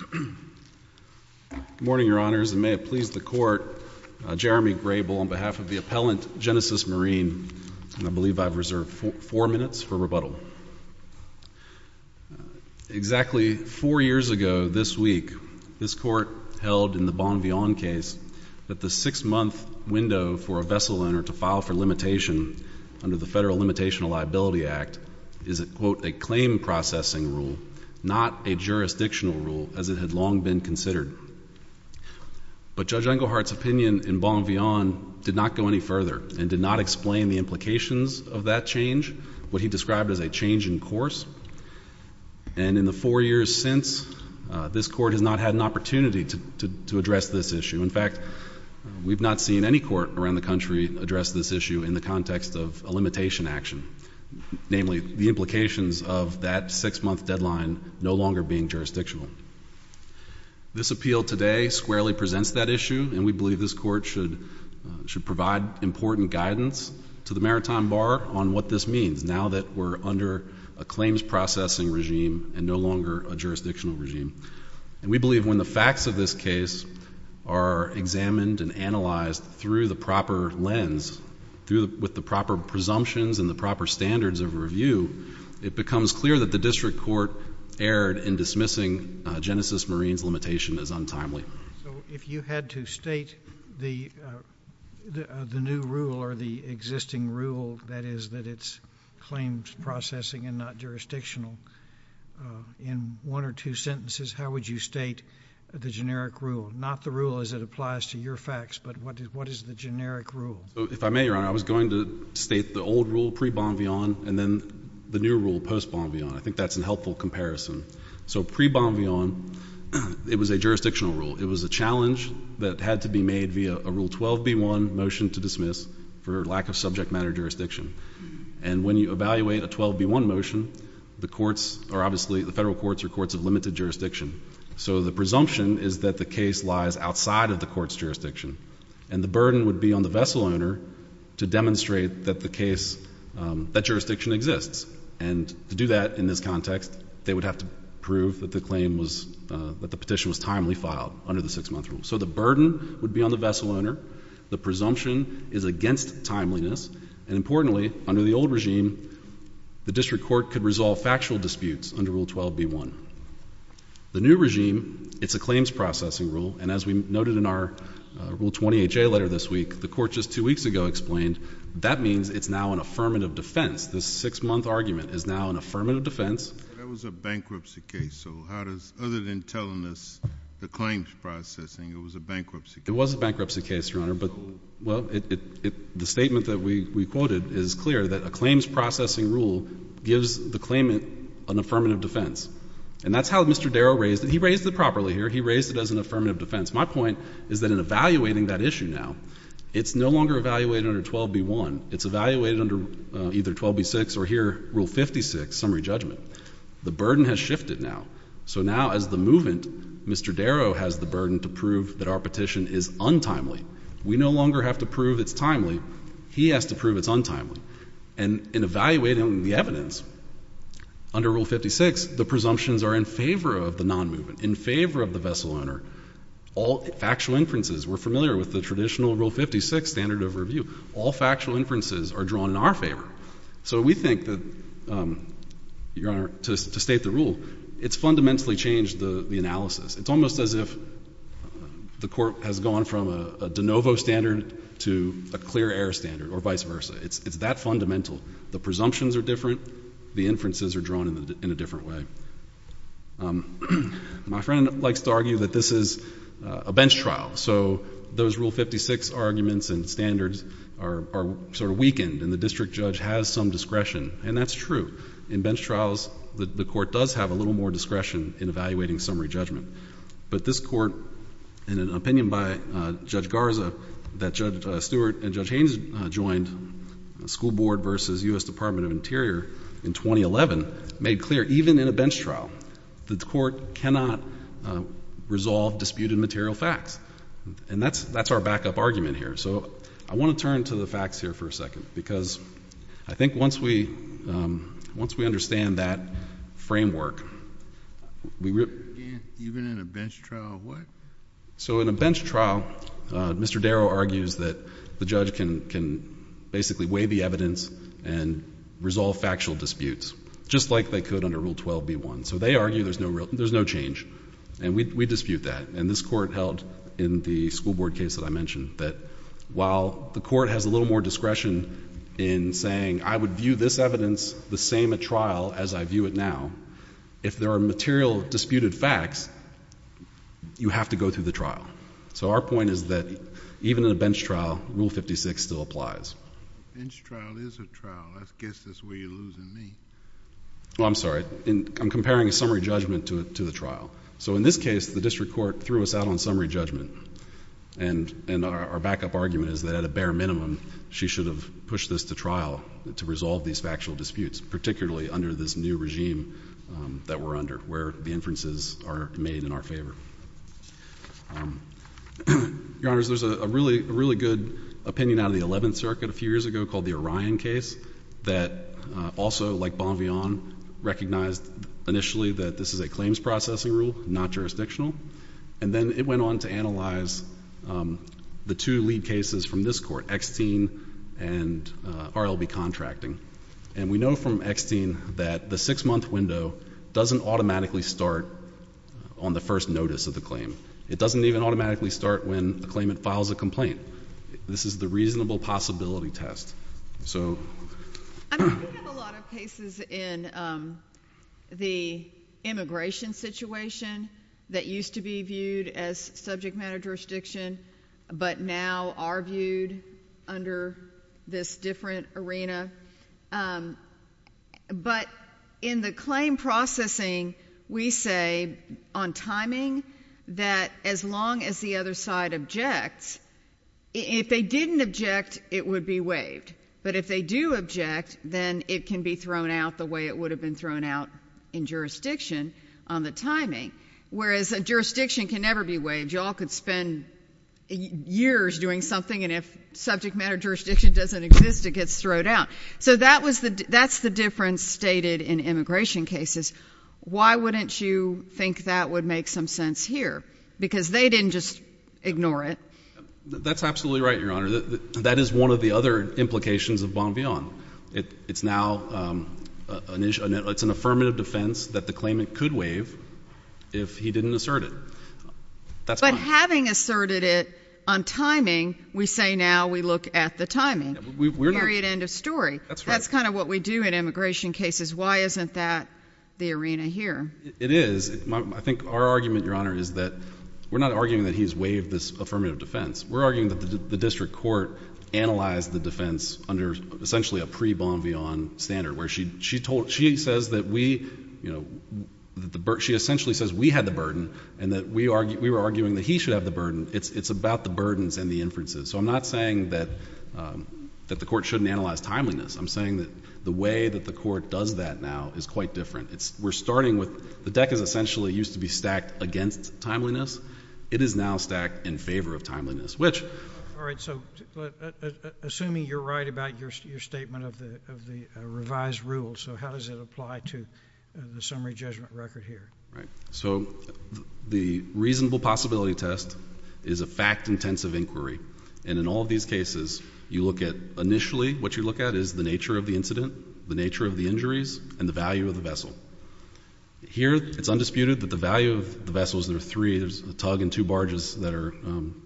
Good morning, Your Honors, and may it please the Court, Jeremy Grable on behalf of the appellant, Genesis Marine, and I believe I've reserved four minutes for rebuttal. Exactly four years ago this week, this Court held in the Bonvillain case that the six-month window for a vessel owner to file for limitation under the Federal Limitational Liability Act is a, quote, a claim processing rule, not a jurisdictional rule as it had long been considered. But Judge Engelhardt's opinion in Bonvillain did not go any further and did not explain the implications of that change, what he described as a change in course. And in the four years since, this Court has not had an opportunity to address this issue. In fact, we've not seen any court around the country address this issue in the context of a limitation action, namely the implications of that six-month deadline no longer being jurisdictional. This appeal today squarely presents that issue, and we believe this Court should provide important guidance to the Maritime Bar on what this means now that we're under a claims processing regime and no longer a jurisdictional regime. And we believe when the facts of this case are examined and analyzed through the proper court lens, with the proper presumptions and the proper standards of review, it becomes clear that the district court erred in dismissing Genesis Marine's limitation as untimely. So if you had to state the new rule or the existing rule, that is, that it's claims processing and not jurisdictional, in one or two sentences, how would you state the generic rule? Not the rule as it applies to your facts, but what is the generic rule? If I may, Your Honor, I was going to state the old rule pre-Bonvillon and then the new rule post-Bonvillon. I think that's a helpful comparison. So pre-Bonvillon, it was a jurisdictional rule. It was a challenge that had to be made via a Rule 12b1 motion to dismiss for lack of subject matter jurisdiction. And when you evaluate a 12b1 motion, the courts are obviously, the federal courts are courts of limited jurisdiction. So the presumption is that the case lies outside of the court's jurisdiction, and the burden would be on the vessel owner to demonstrate that the case, that jurisdiction exists. And to do that in this context, they would have to prove that the claim was, that the petition was timely filed under the six-month rule. So the burden would be on the vessel owner. The presumption is against timeliness, and importantly, under the old regime, the district court could resolve factual disputes under Rule 12b1. The new regime, it's a claims processing rule. And as we noted in our Rule 20HA letter this week, the court just two weeks ago explained that means it's now an affirmative defense. This six-month argument is now an affirmative defense. But that was a bankruptcy case. So how does, other than telling us the claims processing, it was a bankruptcy case? It was a bankruptcy case, Your Honor. But, well, it, it, it, the statement that we, we quoted is clear that a claims processing rule gives the claimant an affirmative defense. And that's how Mr. Darrow raised it. He raised it properly here. He raised it as an affirmative defense. My point is that in evaluating that issue now, it's no longer evaluated under 12b1. It's evaluated under either 12b6 or here, Rule 56, summary judgment. The burden has shifted now. So now, as the movement, Mr. Darrow has the burden to prove that our petition is untimely. We no longer have to prove it's timely. He has to prove it's untimely. And in evaluating the evidence, under Rule 56, the presumptions are in favor of the non-movement, in favor of the vessel owner. All factual inferences, we're familiar with the traditional Rule 56 standard of review. All factual inferences are drawn in our favor. So we think that, Your Honor, to state the rule, it's fundamentally changed the analysis. It's almost as if the court has gone from a de novo standard to a clear air standard or vice versa. It's that fundamental. The presumptions are different. The inferences are drawn in a different way. My friend likes to argue that this is a bench trial. So those Rule 56 arguments and standards are sort of weakened, and the district judge has some discretion. And that's true. In bench trials, the court does have a little more discretion in evaluating summary judgment. But this court, in an opinion by Judge Garza, that Judge Stewart and Judge Haynes joined, School Board versus U.S. Department of Interior, in 2011, made clear, even in a bench trial, that the court cannot resolve disputed material facts. And that's our backup argument here. So I want to turn to the facts here for a second, because I think once we understand that framework, we really— Even in a bench trial, what? So in a bench trial, Mr. Darrow argues that the judge can basically weigh the evidence and resolve factual disputes, just like they could under Rule 12b1. So they argue there's no change. And we dispute that. And this court held, in the School Board case that I mentioned, that while the court has a little more discretion in saying, I would view this evidence the same at trial as I view it now, if there are material disputed facts, you have to go through the trial. So our point is that even in a bench trial, Rule 56 still applies. A bench trial is a trial. I guess that's where you're losing me. I'm sorry. I'm comparing a summary judgment to the trial. So in this case, the district court threw us out on summary judgment. And our backup argument is that at a bare minimum, she should have pushed this to trial to resolve these factual disputes, particularly under this new regime that we're under, where the inferences are made in our favor. Your Honors, there's a really good opinion out of the Eleventh Circuit a few years ago called the Orion case that also, like Bonvillain, recognized initially that this is a claims processing rule, not jurisdictional. And then it went on to analyze the two lead cases from this court, Extine and RLB Contracting. And we know from Extine that the six-month window doesn't automatically start on the first notice of the claim. It doesn't even automatically start when the claimant files a complaint. This is the reasonable possibility test. So- I mean, we have a lot of cases in the immigration situation that used to be viewed as subject matter jurisdiction, but now are viewed under this different arena. But in the claim processing, we say, on timing, that as long as the other side objects, if they didn't object, it would be waived. But if they do object, then it can be thrown out the way it would have been thrown out in jurisdiction on the timing, whereas a jurisdiction can never be waived. You all could spend years doing something, and if subject matter jurisdiction doesn't exist, it gets thrown out. So that's the difference stated in immigration cases. Why wouldn't you think that would make some sense here? Because they didn't just ignore it. That's absolutely right, Your Honor. That is one of the other implications of Bonvillain. It's now an affirmative defense that the claimant could waive if he didn't assert it. But having asserted it on timing, we say now we look at the timing, period, end of story. That's kind of what we do in immigration cases. Why isn't that the arena here? It is. I think our argument, Your Honor, is that we're not arguing that he's waived this affirmative defense. We're arguing that the district court analyzed the defense under essentially a pre-Bonvillain standard, where she essentially says we had the burden and that we were arguing that he should have the burden. It's about the burdens and the inferences. So I'm not saying that the court shouldn't analyze timeliness. I'm saying that the way that the court does that now is quite different. We're starting with the deck is essentially used to be stacked against timeliness. It is now stacked in favor of timeliness, which— All right. So assuming you're right about your statement of the revised rules, so how does it apply to the summary judgment record here? Right. So the reasonable possibility test is a fact-intensive inquiry. And in all of these cases, you look at—initially, what you look at is the nature of the incident, the nature of the injuries, and the value of the vessel. Here it's undisputed that the value of the vessel is there are three. There's a tug and two barges that are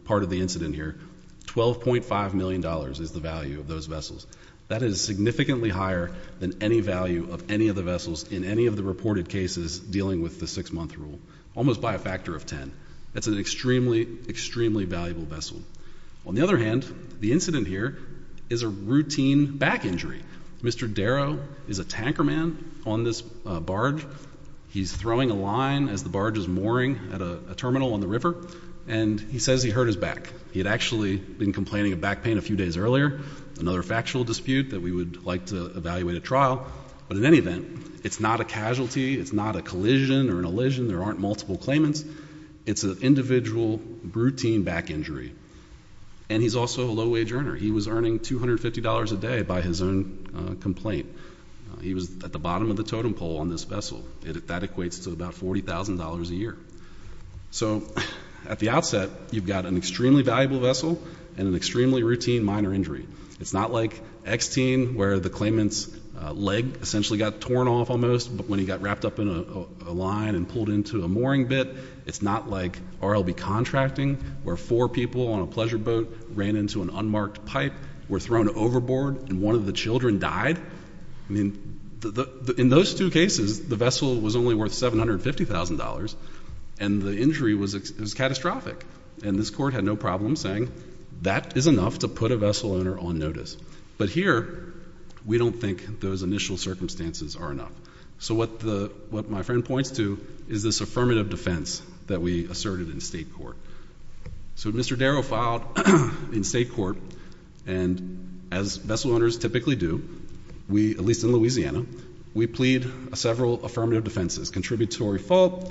part of the incident here. $12.5 million is the value of those vessels. That is significantly higher than any value of any of the vessels in any of the reported cases dealing with the six-month rule, almost by a factor of 10. That's an extremely, extremely valuable vessel. On the other hand, the incident here is a routine back injury. Mr. Darrow is a tanker man on this barge. He's throwing a line as the barge is mooring at a terminal on the river, and he says he hurt his back. He had actually been complaining of back pain a few days earlier, another factual dispute that we would like to evaluate at trial. But in any event, it's not a casualty. It's not a collision or an elision. There aren't multiple claimants. It's an individual routine back injury. And he's also a low-wage earner. He was earning $250 a day by his own complaint. He was at the bottom of the totem pole on this vessel. That equates to about $40,000 a year. So at the outset, you've got an extremely valuable vessel and an extremely routine minor injury. It's not like X-Teen, where the claimant's leg essentially got torn off almost, but when he got wrapped up in a line and pulled into a mooring bit. It's not like RLB Contracting, where four people on a pleasure boat ran into an unmarked pipe, were thrown overboard, and one of the children died. In those two cases, the vessel was only worth $750,000, and the injury was catastrophic. And this court had no problem saying, that is enough to put a vessel owner on notice. But here, we don't think those initial circumstances are enough. So what my friend points to is this affirmative defense that we asserted in state court. So Mr. Darrow filed in state court, and as vessel owners typically do, at least in Louisiana, we plead several affirmative defenses, contributory fault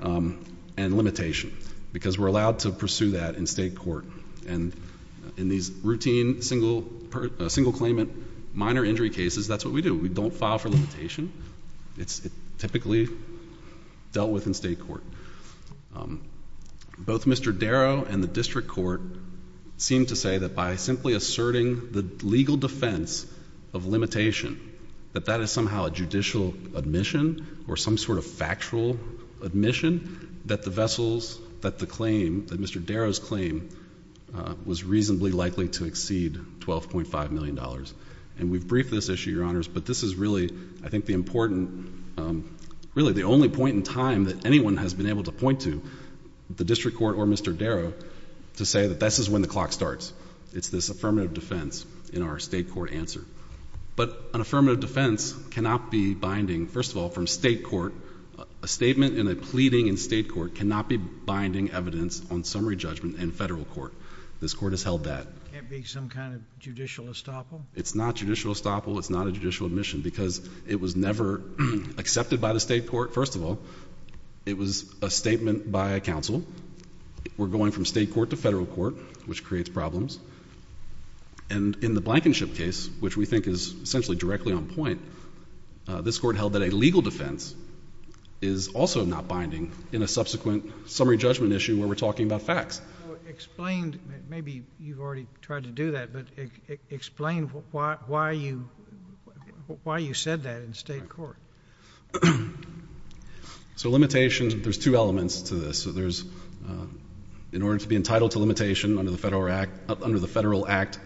and limitation, because we're allowed to pursue that in state court. And in these routine single claimant minor injury cases, that's what we do. We don't file for limitation. It's typically dealt with in state court. Both Mr. Darrow and the district court seem to say that by simply asserting the legal defense of limitation, that that is somehow a judicial admission, or some sort of factual admission, that the vessels, that the claim, that Mr. Darrow's claim, was reasonably likely to exceed $12.5 million. And we've briefed this issue, Your Honors, but this is really, I think, the important, really the only point in time that anyone has been able to point to, the district court or Mr. Darrow, to say that this is when the clock starts. It's this affirmative defense in our state court answer. But an affirmative defense cannot be binding, first of all, from state court, a statement in a pleading in state court cannot be binding evidence on summary judgment in federal court. This court has held that. Can't be some kind of judicial estoppel? It's not judicial estoppel. It's not a judicial admission because it was never accepted by the state court, first of all. It was a statement by a counsel. We're going from state court to federal court, which creates problems. And in the Blankenship case, which we think is essentially directly on point, this court held that a legal defense is also not binding in a subsequent summary judgment issue where we're talking about facts. Explain, maybe you've already tried to do that, but explain why you said that in state court. So limitations, there's two elements to this. So there's, in order to be entitled to limitation under the federal act,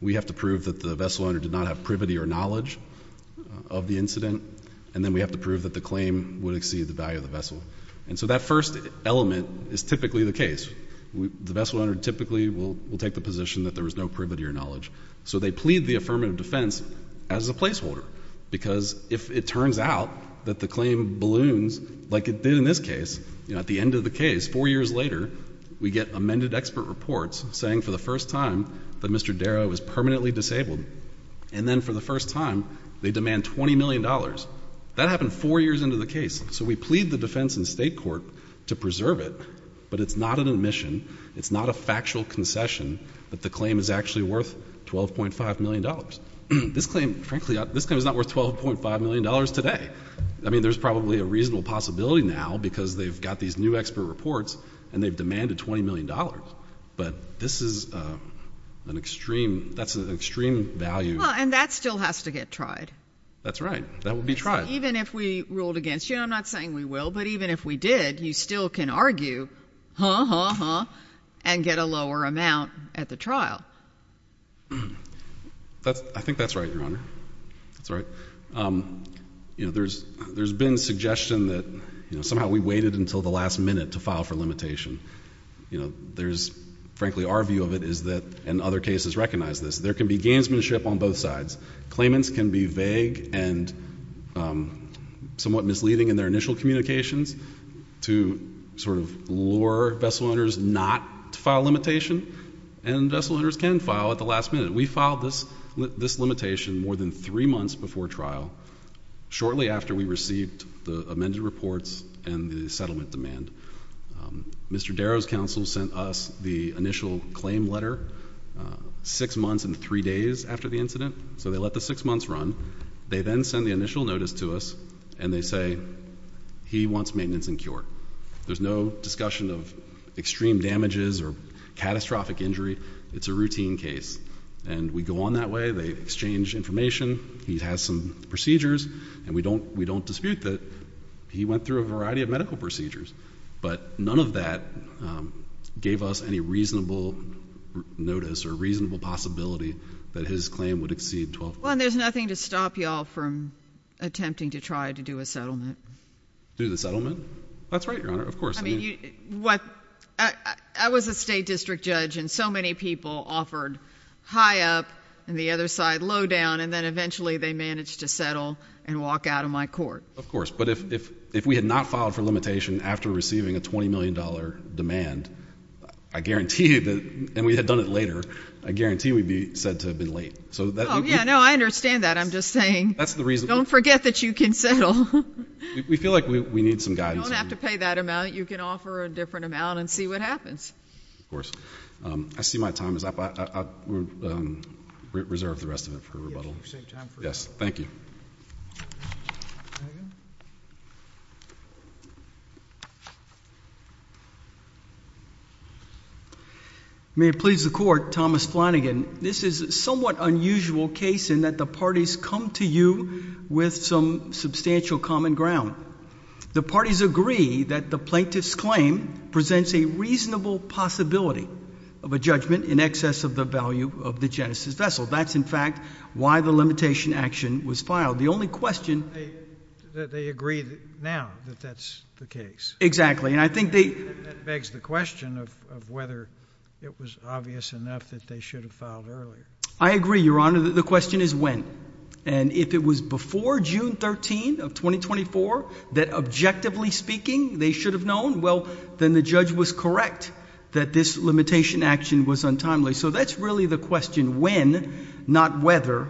we have to prove that the vessel owner did not have privity or knowledge of the incident, and then we have to prove that the claim would exceed the value of the vessel. And so that first element is typically the case. The vessel owner typically will take the position that there was no privity or knowledge. So they plead the affirmative defense as a placeholder because if it turns out that the claim balloons like it did in this case, you know, at the end of the case, four years later, we get amended expert reports saying for the first time that Mr. Darrow was permanently disabled, and then for the first time, they demand $20 million. That happened four years into the case. So we plead the defense in state court to preserve it, but it's not an admission, it's not a factual concession that the claim is actually worth $12.5 million. This claim, frankly, this claim is not worth $12.5 million today. I mean, there's probably a reasonable possibility now because they've got these new expert reports and they've demanded $20 million, but this is an extreme, that's an extreme value. Well, and that still has to get tried. That's right. That will be tried. Even if we ruled against you, I'm not saying we will, but even if we did, you still can argue, huh, huh, huh, and get a lower amount at the trial. That's, I think that's right, Your Honor. That's right. You know, there's, there's been suggestion that, you know, somehow we waited until the last minute to file for limitation. You know, there's, frankly, our view of it is that, and other cases recognize this, there can be gamesmanship on both sides. Claimants can be vague and somewhat misleading in their initial communications to sort of lure vessel owners not to file limitation, and vessel owners can file at the last minute. We filed this, this limitation more than three months before trial, shortly after we received the amended reports and the settlement demand. Mr. Darrow's counsel sent us the initial claim letter six months and three days after the incident. So they let the six months run. They then send the initial notice to us, and they say, he wants maintenance and cure. There's no discussion of extreme damages or catastrophic injury, it's a routine case. And we go on that way, they exchange information, he has some procedures, and we don't dispute that he went through a variety of medical procedures. But none of that gave us any reasonable notice or reasonable possibility that his claim would exceed 12 months. Well, and there's nothing to stop you all from attempting to try to do a settlement. Do the settlement? That's right, Your Honor, of course. I mean, I was a state district judge, and so many people offered high up and the other side low down, and then eventually they managed to settle and walk out of my court. Of course, but if we had not filed for limitation after receiving a $20 million demand, I guarantee you that, and we had done it later, I guarantee you we'd be said to have been late. So that- Yeah, no, I understand that. I'm just saying, don't forget that you can settle. We feel like we need some guidance. You don't have to pay that amount. You can offer a different amount and see what happens. Of course. I see my time is up, I will reserve the rest of it for rebuttal. Yes, thank you. May it please the court, Thomas Flanagan, this is a somewhat unusual case in that the parties come to you with some substantial common ground. The parties agree that the plaintiff's claim presents a reasonable possibility of a judgment in excess of the value of the Genesis vessel. That's, in fact, why the limitation action was filed. The only question- They agree now that that's the case. Exactly, and I think they- That begs the question of whether it was obvious enough that they should have filed earlier. I agree, Your Honor, the question is when. And if it was before June 13 of 2024 that, objectively speaking, they should have known, well, then the judge was correct that this limitation action was untimely. So that's really the question, when, not whether.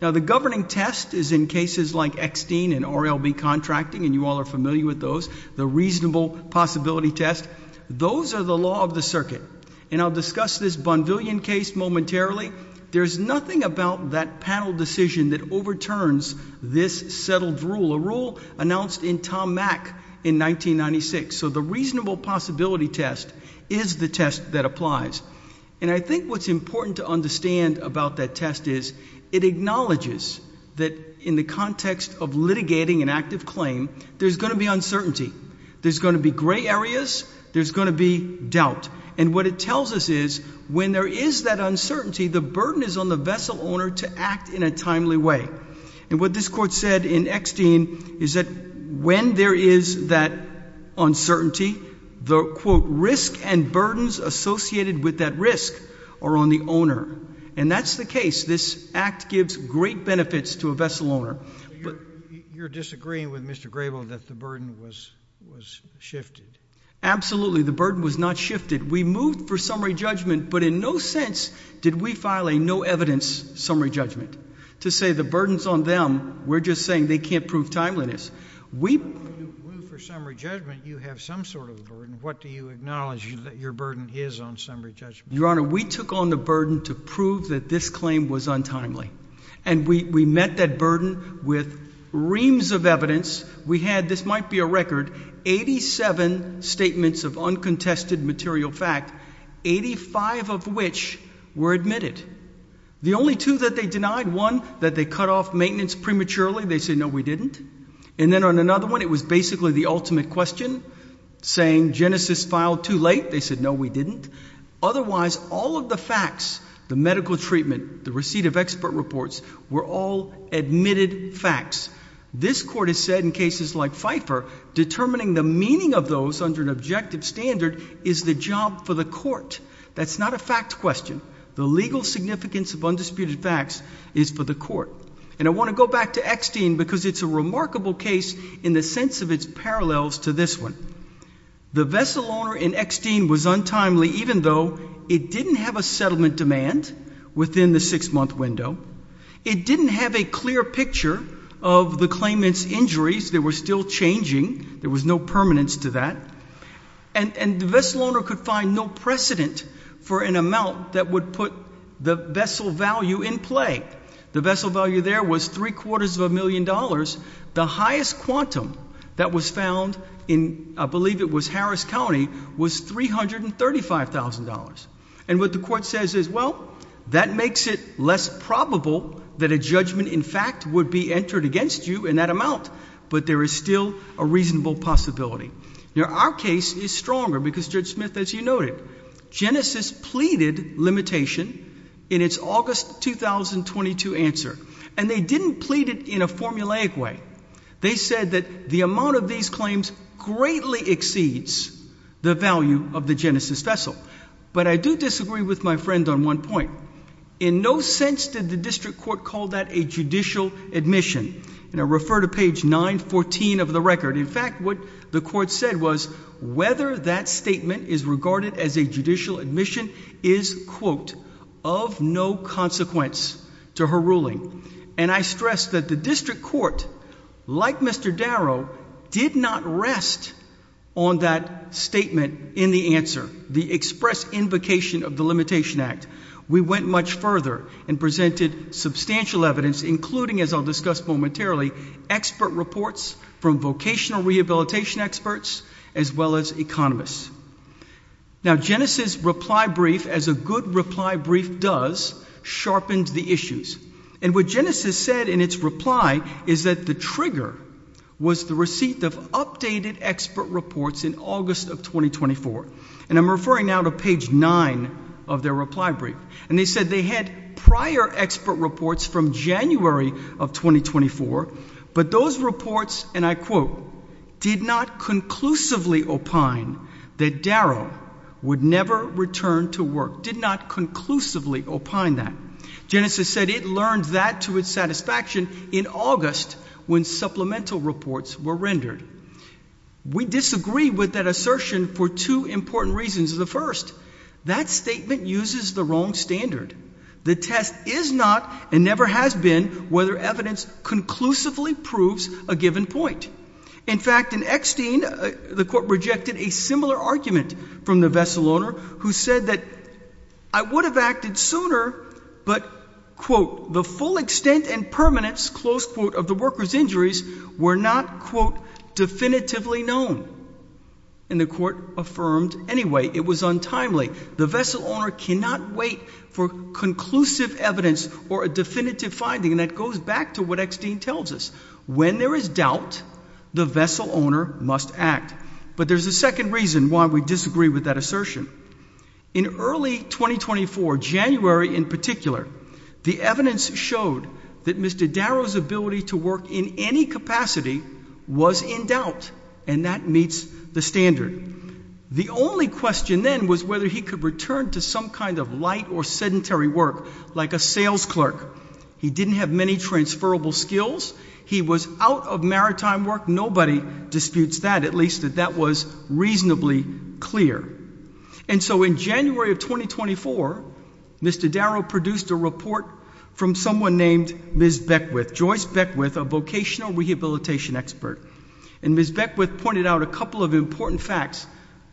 Now, the governing test is in cases like Extine and RLB contracting, and you all are familiar with those. The reasonable possibility test, those are the law of the circuit. And I'll discuss this Bonvillian case momentarily. There's nothing about that panel decision that overturns this settled rule, a rule announced in Tom Mack in 1996. So the reasonable possibility test is the test that applies. And I think what's important to understand about that test is it acknowledges that in the context of litigating an active claim, there's going to be uncertainty. There's going to be gray areas, there's going to be doubt. And what it tells us is, when there is that uncertainty, the burden is on the vessel owner to act in a timely way. And what this court said in Extine is that when there is that uncertainty, the, quote, risk and burdens associated with that risk are on the owner. And that's the case. This act gives great benefits to a vessel owner, but- You're disagreeing with Mr. Grable that the burden was shifted. Absolutely, the burden was not shifted. We moved for summary judgment, but in no sense did we file a no evidence summary judgment. To say the burden's on them, we're just saying they can't prove timeliness. We- When you move for summary judgment, you have some sort of a burden. What do you acknowledge that your burden is on summary judgment? Your Honor, we took on the burden to prove that this claim was untimely. And we met that burden with reams of evidence. We had, this might be a record, 87 statements of uncontested material fact, 85 of which were admitted. The only two that they denied, one, that they cut off maintenance prematurely, they said no we didn't. And then on another one, it was basically the ultimate question, saying Genesis filed too late, they said no we didn't. Otherwise, all of the facts, the medical treatment, the receipt of expert reports, were all admitted facts. This court has said in cases like Pfeiffer, determining the meaning of those under an objective standard is the job for the court. That's not a fact question. The legal significance of undisputed facts is for the court. And I want to go back to Eckstein because it's a remarkable case in the sense of its parallels to this one. The vessel owner in Eckstein was untimely even though it didn't have a settlement demand within the six month window. It didn't have a clear picture of the claimant's injuries, they were still changing, there was no permanence to that. And the vessel owner could find no precedent for an amount that would put the vessel value in play. The vessel value there was three quarters of a million dollars. The highest quantum that was found in, I believe it was Harris County, was $335,000. And what the court says is, well, that makes it less probable that a judgment in fact would be entered against you in that amount. But there is still a reasonable possibility. Now our case is stronger because Judge Smith, as you noted, Genesis pleaded limitation in its August 2022 answer. And they didn't plead it in a formulaic way. They said that the amount of these claims greatly exceeds the value of the Genesis vessel. But I do disagree with my friend on one point. In no sense did the district court call that a judicial admission. And I refer to page 914 of the record. In fact, what the court said was, whether that statement is regarded as a judicial admission is, quote, of no consequence to her ruling. And I stress that the district court, like Mr. Darrow, did not rest on that statement in the answer, the express invocation of the Limitation Act. We went much further and presented substantial evidence, including, as I'll discuss momentarily, expert reports from vocational rehabilitation experts as well as economists. Now Genesis' reply brief, as a good reply brief does, sharpened the issues. And what Genesis said in its reply is that the trigger was the receipt of updated expert reports in August of 2024. And I'm referring now to page 9 of their reply brief. And they said they had prior expert reports from January of 2024. But those reports, and I quote, did not conclusively opine that Darrow would never return to work. Did not conclusively opine that. Genesis said it learned that to its satisfaction in August when supplemental reports were rendered. We disagree with that assertion for two important reasons. The first, that statement uses the wrong standard. The test is not, and never has been, whether evidence conclusively proves a given point. In fact, in Eckstein, the court rejected a similar argument from the vessel owner, who said that I would have acted sooner, but, quote, the full extent and permanence, close quote, of the worker's injuries were not, quote, definitively known. And the court affirmed anyway, it was untimely. The vessel owner cannot wait for conclusive evidence or a definitive finding. And that goes back to what Eckstein tells us. When there is doubt, the vessel owner must act. But there's a second reason why we disagree with that assertion. In early 2024, January in particular, the evidence showed that Mr. Darrow's ability to work in any capacity was in doubt, and that meets the standard. The only question then was whether he could return to some kind of light or sedentary work, like a sales clerk. He didn't have many transferable skills. He was out of maritime work. Nobody disputes that, at least that that was reasonably clear. And so in January of 2024, Mr. Darrow produced a report from someone named Ms. Beckwith. Joyce Beckwith, a vocational rehabilitation expert. And Ms. Beckwith pointed out a couple of important facts,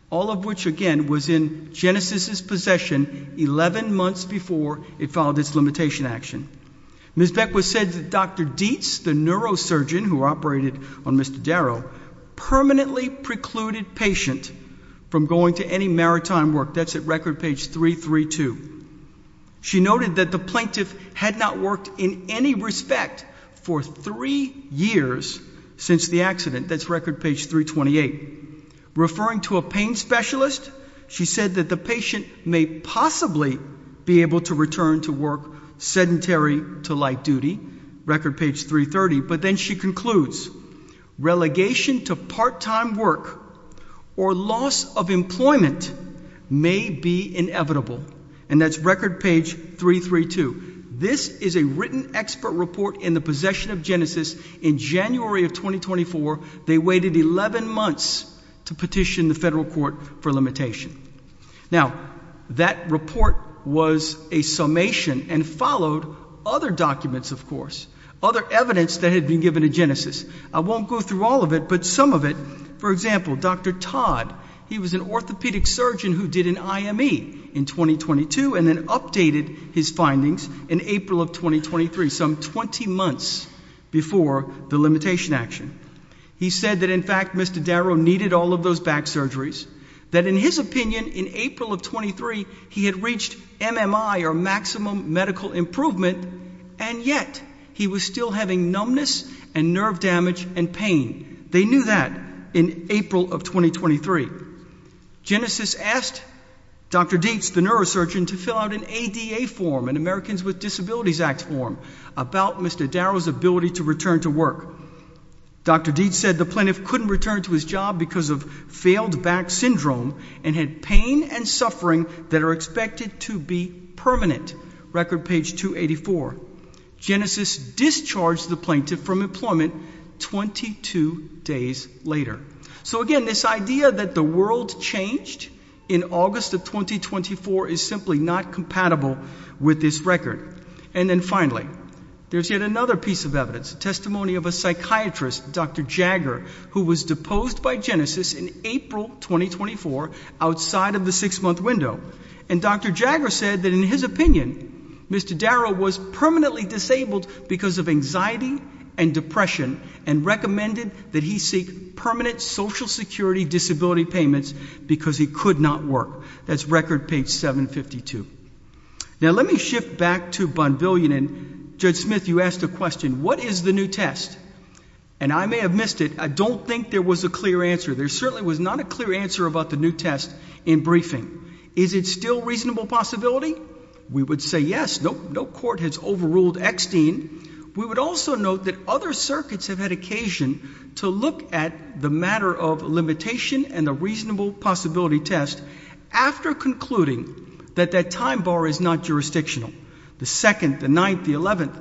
all of which, again, was in Genesis's possession 11 months before it filed its limitation action. Ms. Beckwith said that Dr. Dietz, the neurosurgeon who operated on Mr. Darrow, permanently precluded patient from going to any maritime work. That's at record page 332. She noted that the plaintiff had not worked in any respect for three years since the accident, that's record page 328. Referring to a pain specialist, she said that the patient may possibly be able to return to work sedentary to light duty, record page 330. But then she concludes, relegation to part-time work or loss of employment may be inevitable, and that's record page 332. This is a written expert report in the possession of Genesis in January of 2024. They waited 11 months to petition the federal court for limitation. Now, that report was a summation and followed other documents, of course, other evidence that had been given to Genesis. I won't go through all of it, but some of it. For example, Dr. Todd, he was an orthopedic surgeon who did an IME in 2022 and then updated his findings in April of 2023, some 20 months before the limitation action. He said that in fact, Mr. Darrow needed all of those back surgeries. That in his opinion, in April of 23, he had reached MMI, or maximum medical improvement. And yet, he was still having numbness and nerve damage and pain. They knew that in April of 2023. Genesis asked Dr. Dietz, the neurosurgeon, to fill out an ADA form, an Americans with Disabilities Act form, about Mr. Darrow's ability to return to work. Dr. Dietz said the plaintiff couldn't return to his job because of failed back syndrome and had pain and suffering that are expected to be permanent, record page 284. Genesis discharged the plaintiff from employment 22 days later. So again, this idea that the world changed in August of 2024 is simply not compatible with this record. And then finally, there's yet another piece of evidence, testimony of a psychiatrist, Dr. Jagger, who was deposed by Genesis in April 2024, outside of the six month window. And Dr. Jagger said that in his opinion, Mr. Darrow was permanently disabled because of anxiety and depression and recommended that he seek permanent social security disability payments because he could not work. That's record page 752. Now let me shift back to Bonvillian and Judge Smith, you asked a question, what is the new test? And I may have missed it, I don't think there was a clear answer. There certainly was not a clear answer about the new test in briefing. Is it still reasonable possibility? We would say yes, no court has overruled Extine. We would also note that other circuits have had occasion to look at the matter of limitation and the reasonable possibility test after concluding that that time bar is not jurisdictional. The second, the ninth, the eleventh,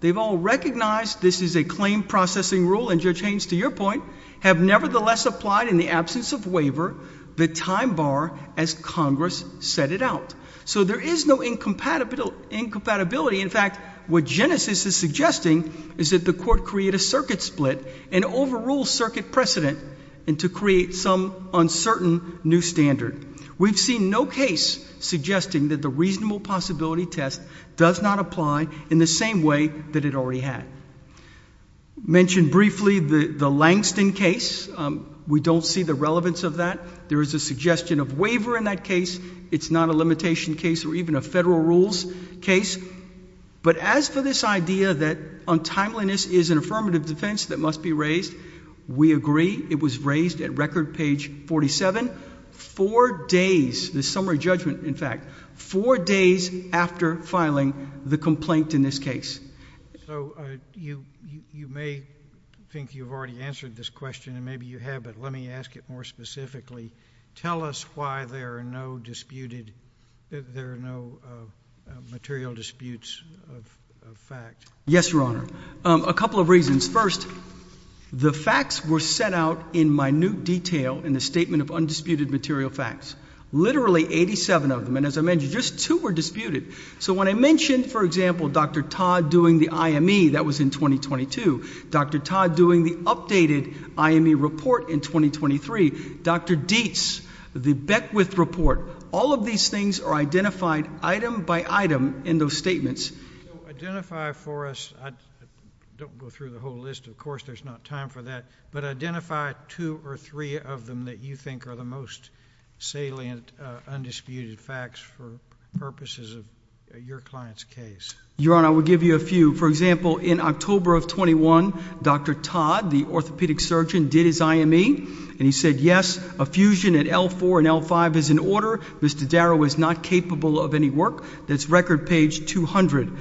they've all recognized this is a claim processing rule and Judge Haynes, to your point, have nevertheless applied in the absence of waiver the time bar as Congress set it out. So there is no incompatibility, in fact what Genesis is suggesting is that the court create a circuit split and overrule circuit precedent and to create some uncertain new standard. We've seen no case suggesting that the reasonable possibility test does not apply in the same way that it already had. Mentioned briefly the Langston case, we don't see the relevance of that. There is a suggestion of waiver in that case, it's not a limitation case or even a federal rules case. But as for this idea that untimeliness is an affirmative defense that must be raised, we agree. It was raised at record page 47, four days, the summary judgment in fact, four days after filing the complaint in this case. So you may think you've already answered this question, and maybe you have, but let me ask it more specifically. Tell us why there are no disputed, there are no material disputes of fact. Yes, Your Honor, a couple of reasons. First, the facts were set out in minute detail in the statement of undisputed material facts. Literally 87 of them, and as I mentioned, just two were disputed. So when I mentioned, for example, Dr. Todd doing the IME, that was in 2022. Dr. Todd doing the updated IME report in 2023. Dr. Dietz, the Beckwith report, all of these things are identified item by item in those statements. Identify for us, I don't go through the whole list, of course there's not time for that. But identify two or three of them that you think are the most salient, undisputed facts for purposes of your client's case. Your Honor, I will give you a few. For example, in October of 21, Dr. Todd, the orthopedic surgeon, did his IME. And he said, yes, a fusion at L4 and L5 is in order. Mr. Darrow is not capable of any work. That's record page 200.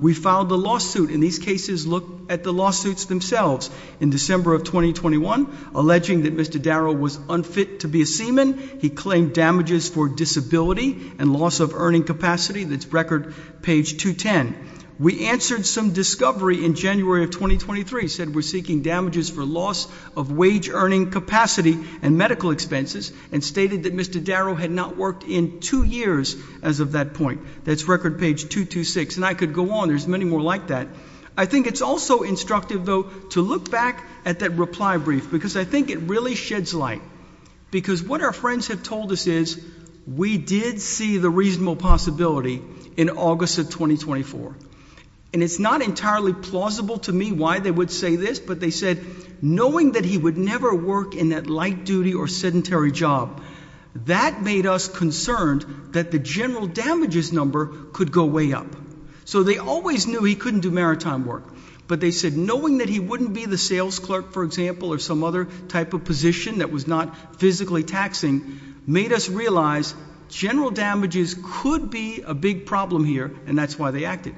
We filed a lawsuit, and these cases look at the lawsuits themselves. In December of 2021, alleging that Mr. Darrow was unfit to be a seaman, he claimed damages for disability and loss of earning capacity, that's record page 210. We answered some discovery in January of 2023, said we're seeking damages for loss of wage earning capacity and medical expenses, and stated that Mr. Darrow had not worked in two years as of that point. That's record page 226, and I could go on, there's many more like that. I think it's also instructive, though, to look back at that reply brief, because I think it really sheds light. Because what our friends have told us is, we did see the reasonable possibility in August of 2024. And it's not entirely plausible to me why they would say this, but they said, knowing that he would never work in that light duty or sedentary job, that made us concerned that the general damages number could go way up. So they always knew he couldn't do maritime work. But they said, knowing that he wouldn't be the sales clerk, for example, or some other type of position that was not physically taxing, made us realize general damages could be a big problem here, and that's why they acted.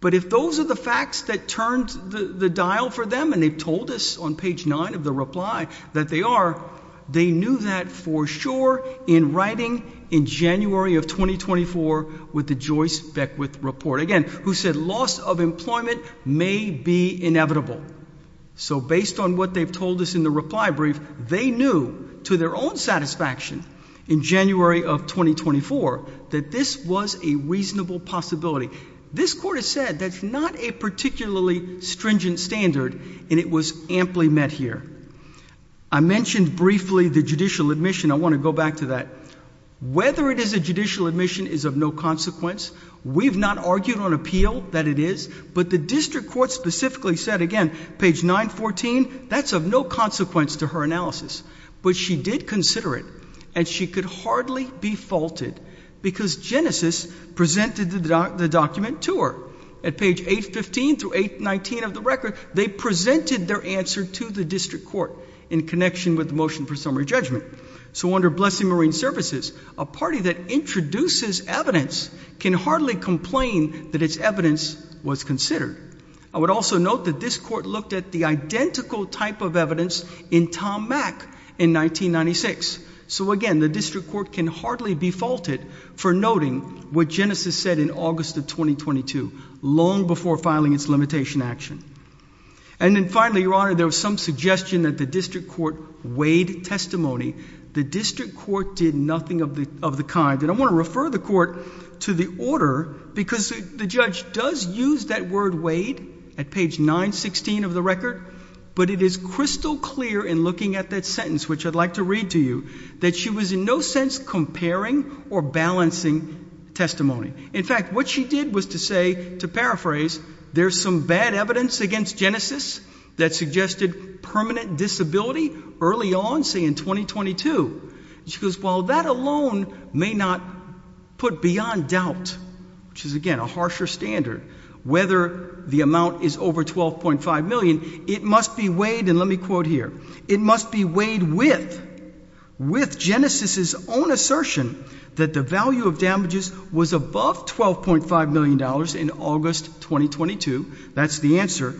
But if those are the facts that turned the dial for them, and they've told us on page nine of the reply that they are, they knew that for sure in writing in January of 2024 with the Joyce Beckwith report. Again, who said loss of employment may be inevitable. So based on what they've told us in the reply brief, they knew to their own satisfaction in January of 2024 that this was a reasonable possibility. This court has said that's not a particularly stringent standard, and it was amply met here. I mentioned briefly the judicial admission, I want to go back to that. Whether it is a judicial admission is of no consequence. We've not argued on appeal that it is, but the district court specifically said, again, page 914, that's of no consequence to her analysis. But she did consider it, and she could hardly be faulted, because Genesis presented the document to her. At page 815 through 819 of the record, they presented their answer to the district court in connection with the motion for summary judgment. So under Blessing Marine Services, a party that introduces evidence can hardly complain that its evidence was considered. I would also note that this court looked at the identical type of evidence in Tom Mack in 1996. So again, the district court can hardly be faulted for noting what Genesis said in August of 2022, long before filing its limitation action. And then finally, your honor, there was some suggestion that the district court weighed testimony. The district court did nothing of the kind, and I want to refer the court to the order, because the judge does use that word weighed at page 916 of the record. But it is crystal clear in looking at that sentence, which I'd like to read to you, that she was in no sense comparing or balancing testimony. In fact, what she did was to say, to paraphrase, there's some bad evidence against Genesis that suggested permanent disability early on, say in 2022. She goes, well, that alone may not put beyond doubt, which is again, a harsher standard, whether the amount is over 12.5 million. It must be weighed, and let me quote here. It must be weighed with Genesis's own assertion that the value of damages was above $12.5 million in August 2022, that's the answer,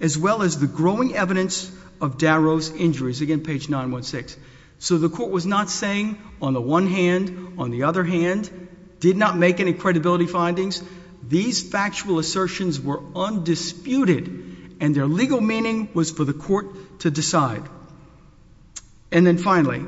as well as the growing evidence of Darrow's injuries, again, page 916. So the court was not saying, on the one hand, on the other hand, did not make any credibility findings. These factual assertions were undisputed, and their legal meaning was for the court to decide. And then finally,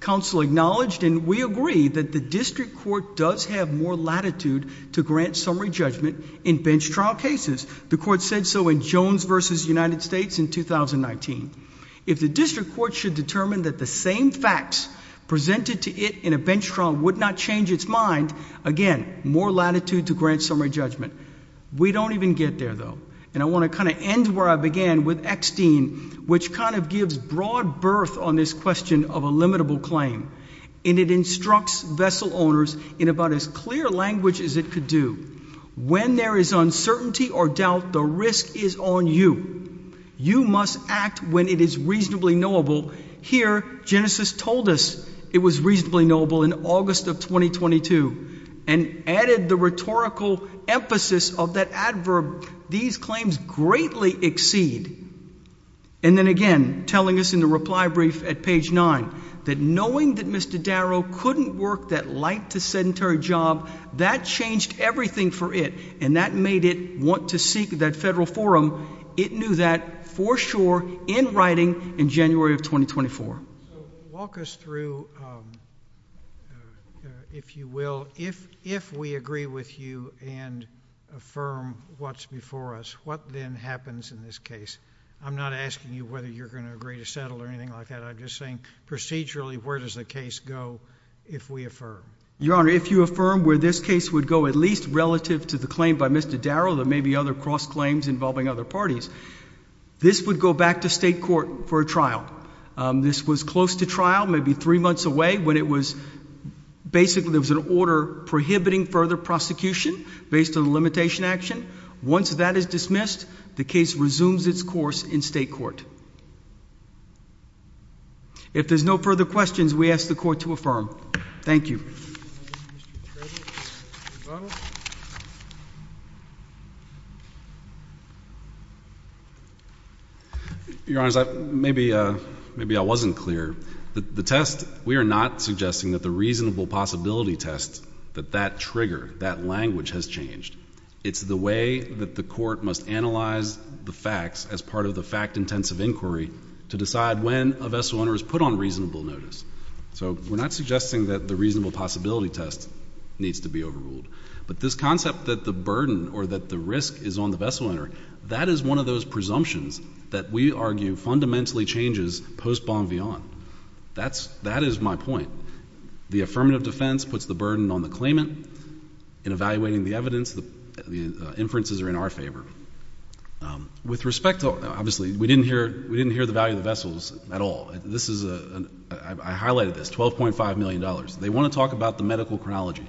counsel acknowledged, and we agree, that the district court does have more latitude to grant summary judgment in bench trial cases. The court said so in Jones v. United States in 2019. If the district court should determine that the same facts presented to it in a bench trial would not change its mind, again, more latitude to grant summary judgment. We don't even get there, though, and I want to kind of end where I began with Eckstein, which kind of gives broad berth on this question of a limitable claim. And it instructs vessel owners in about as clear language as it could do. When there is uncertainty or doubt, the risk is on you. You must act when it is reasonably knowable. Here, Genesis told us it was reasonably knowable in August of 2022, and added the rhetorical emphasis of that adverb. These claims greatly exceed, and then again, telling us in the reply brief at page nine, that knowing that Mr. Darrow couldn't work that light to sedentary job, that changed everything for it, and that made it want to seek that federal forum. It knew that for sure in writing in January of 2024. Walk us through, if you will, if we agree with you and affirm what's before us, what then happens in this case? I'm not asking you whether you're going to agree to settle or anything like that. I'm just saying procedurally, where does the case go if we affirm? Your Honor, if you affirm where this case would go, at least relative to the claim by Mr. Darrow, there may be other cross-claims involving other parties. This would go back to state court for a trial. This was close to trial, maybe three months away, when it was, basically, there was an order prohibiting further prosecution based on the limitation action. Once that is dismissed, the case resumes its course in state court. If there's no further questions, we ask the court to affirm. Thank you. Mr. Trevino, your vote. Your Honor, maybe I wasn't clear. The test, we are not suggesting that the reasonable possibility test, that that trigger, that language has changed. It's the way that the court must analyze the facts as part of the fact-intensive inquiry to decide when a vessel owner is put on reasonable notice. So we're not suggesting that the reasonable possibility test needs to be overruled. But this concept that the burden or that the risk is on the vessel owner, that is one of those presumptions that we argue fundamentally changes post-Bonvillan. That is my point. The affirmative defense puts the burden on the claimant in evaluating the evidence, the inferences are in our favor. With respect to, obviously, we didn't hear the value of the vessels at all. This is a, I highlighted this, $12.5 million. They want to talk about the medical chronology.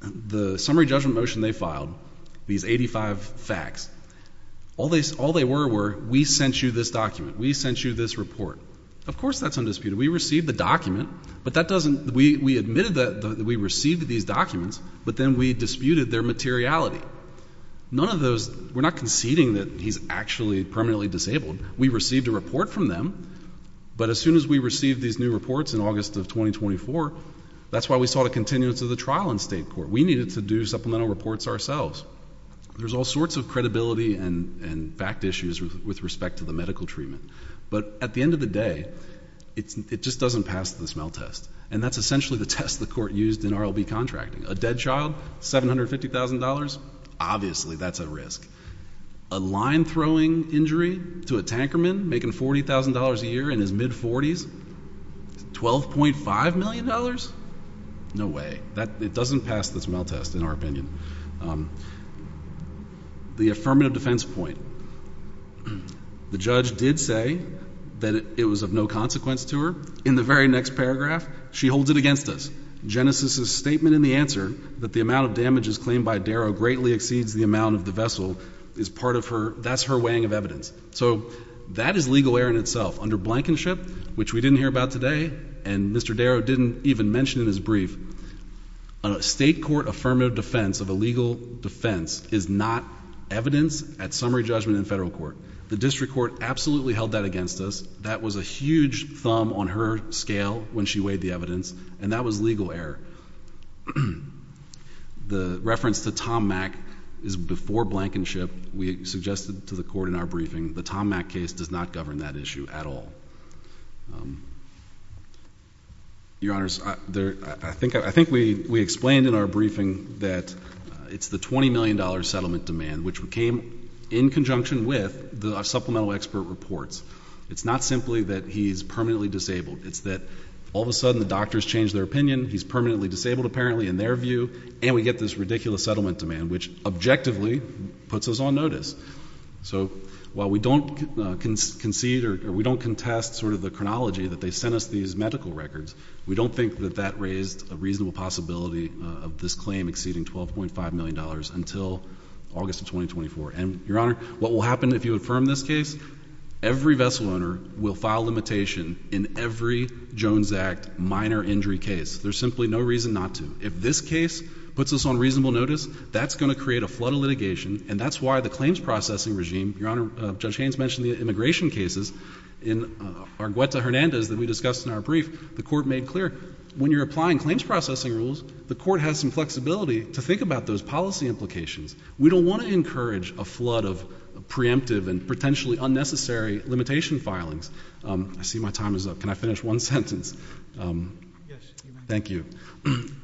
The summary judgment motion they filed, these 85 facts, all they were were, we sent you this document. We sent you this report. Of course that's undisputed. We received the document, but that doesn't, we admitted that we received these documents, but then we disputed their materiality. None of those, we're not conceding that he's actually permanently disabled. We received a report from them, but as soon as we received these new reports in August of 2024, that's why we saw the continuance of the trial in state court. We needed to do supplemental reports ourselves. There's all sorts of credibility and fact issues with respect to the medical treatment. But at the end of the day, it just doesn't pass the smell test. And that's essentially the test the court used in RLB contracting. A dead child, $750,000, obviously that's a risk. A line throwing injury to a tanker man making $40,000 a year in his mid-40s, $12.5 million? No way, it doesn't pass the smell test in our opinion. The affirmative defense point, the judge did say that it was of no consequence to her. In the very next paragraph, she holds it against us. Genesis's statement in the answer, that the amount of damages claimed by Darrow greatly exceeds the amount of the vessel, that's her weighing of evidence. So that is legal error in itself. Under Blankenship, which we didn't hear about today, and Mr. Darrow didn't even mention in his brief, a state court affirmative defense of a legal defense is not evidence at summary judgment in federal court. The district court absolutely held that against us. That was a huge thumb on her scale when she weighed the evidence, and that was legal error. The reference to Tom Mack is before Blankenship. We suggested to the court in our briefing, the Tom Mack case does not govern that issue at all. Your Honors, I think we explained in our briefing that it's the $20 million settlement demand, which came in conjunction with the supplemental expert reports. It's not simply that he's permanently disabled, it's that all of a sudden the doctors changed their opinion. He's permanently disabled apparently in their view, and we get this ridiculous settlement demand, which objectively puts us on notice. So while we don't concede or we don't contest sort of the chronology that they sent us these medical records, we don't think that that raised a reasonable possibility of this claim exceeding $12.5 million until August of 2024. And Your Honor, what will happen if you affirm this case? Every vessel owner will file limitation in every Jones Act minor injury case. There's simply no reason not to. If this case puts us on reasonable notice, that's going to create a flood of litigation, and that's why the claims processing regime. Your Honor, Judge Haynes mentioned the immigration cases in our Guetta Hernandez that we discussed in our brief. The court made clear, when you're applying claims processing rules, the court has some flexibility to think about those policy implications. We don't want to encourage a flood of preemptive and potentially unnecessary limitation filings. I see my time is up. Can I finish one sentence? Thank you.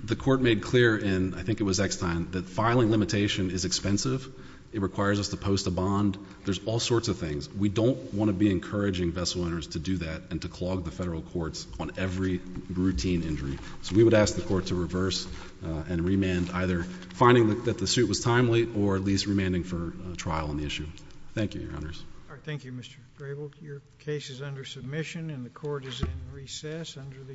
The court made clear, and I think it was Eckstein, that filing limitation is expensive. It requires us to post a bond. There's all sorts of things. We don't want to be encouraging vessel owners to do that and to clog the federal courts on every routine injury. So we would ask the court to reverse and remand either finding that the suit was timely or at least remanding for trial on the issue. Thank you, Your Honors. Thank you, Mr. Grable. Your case is under submission and the court is in recess under the usual order.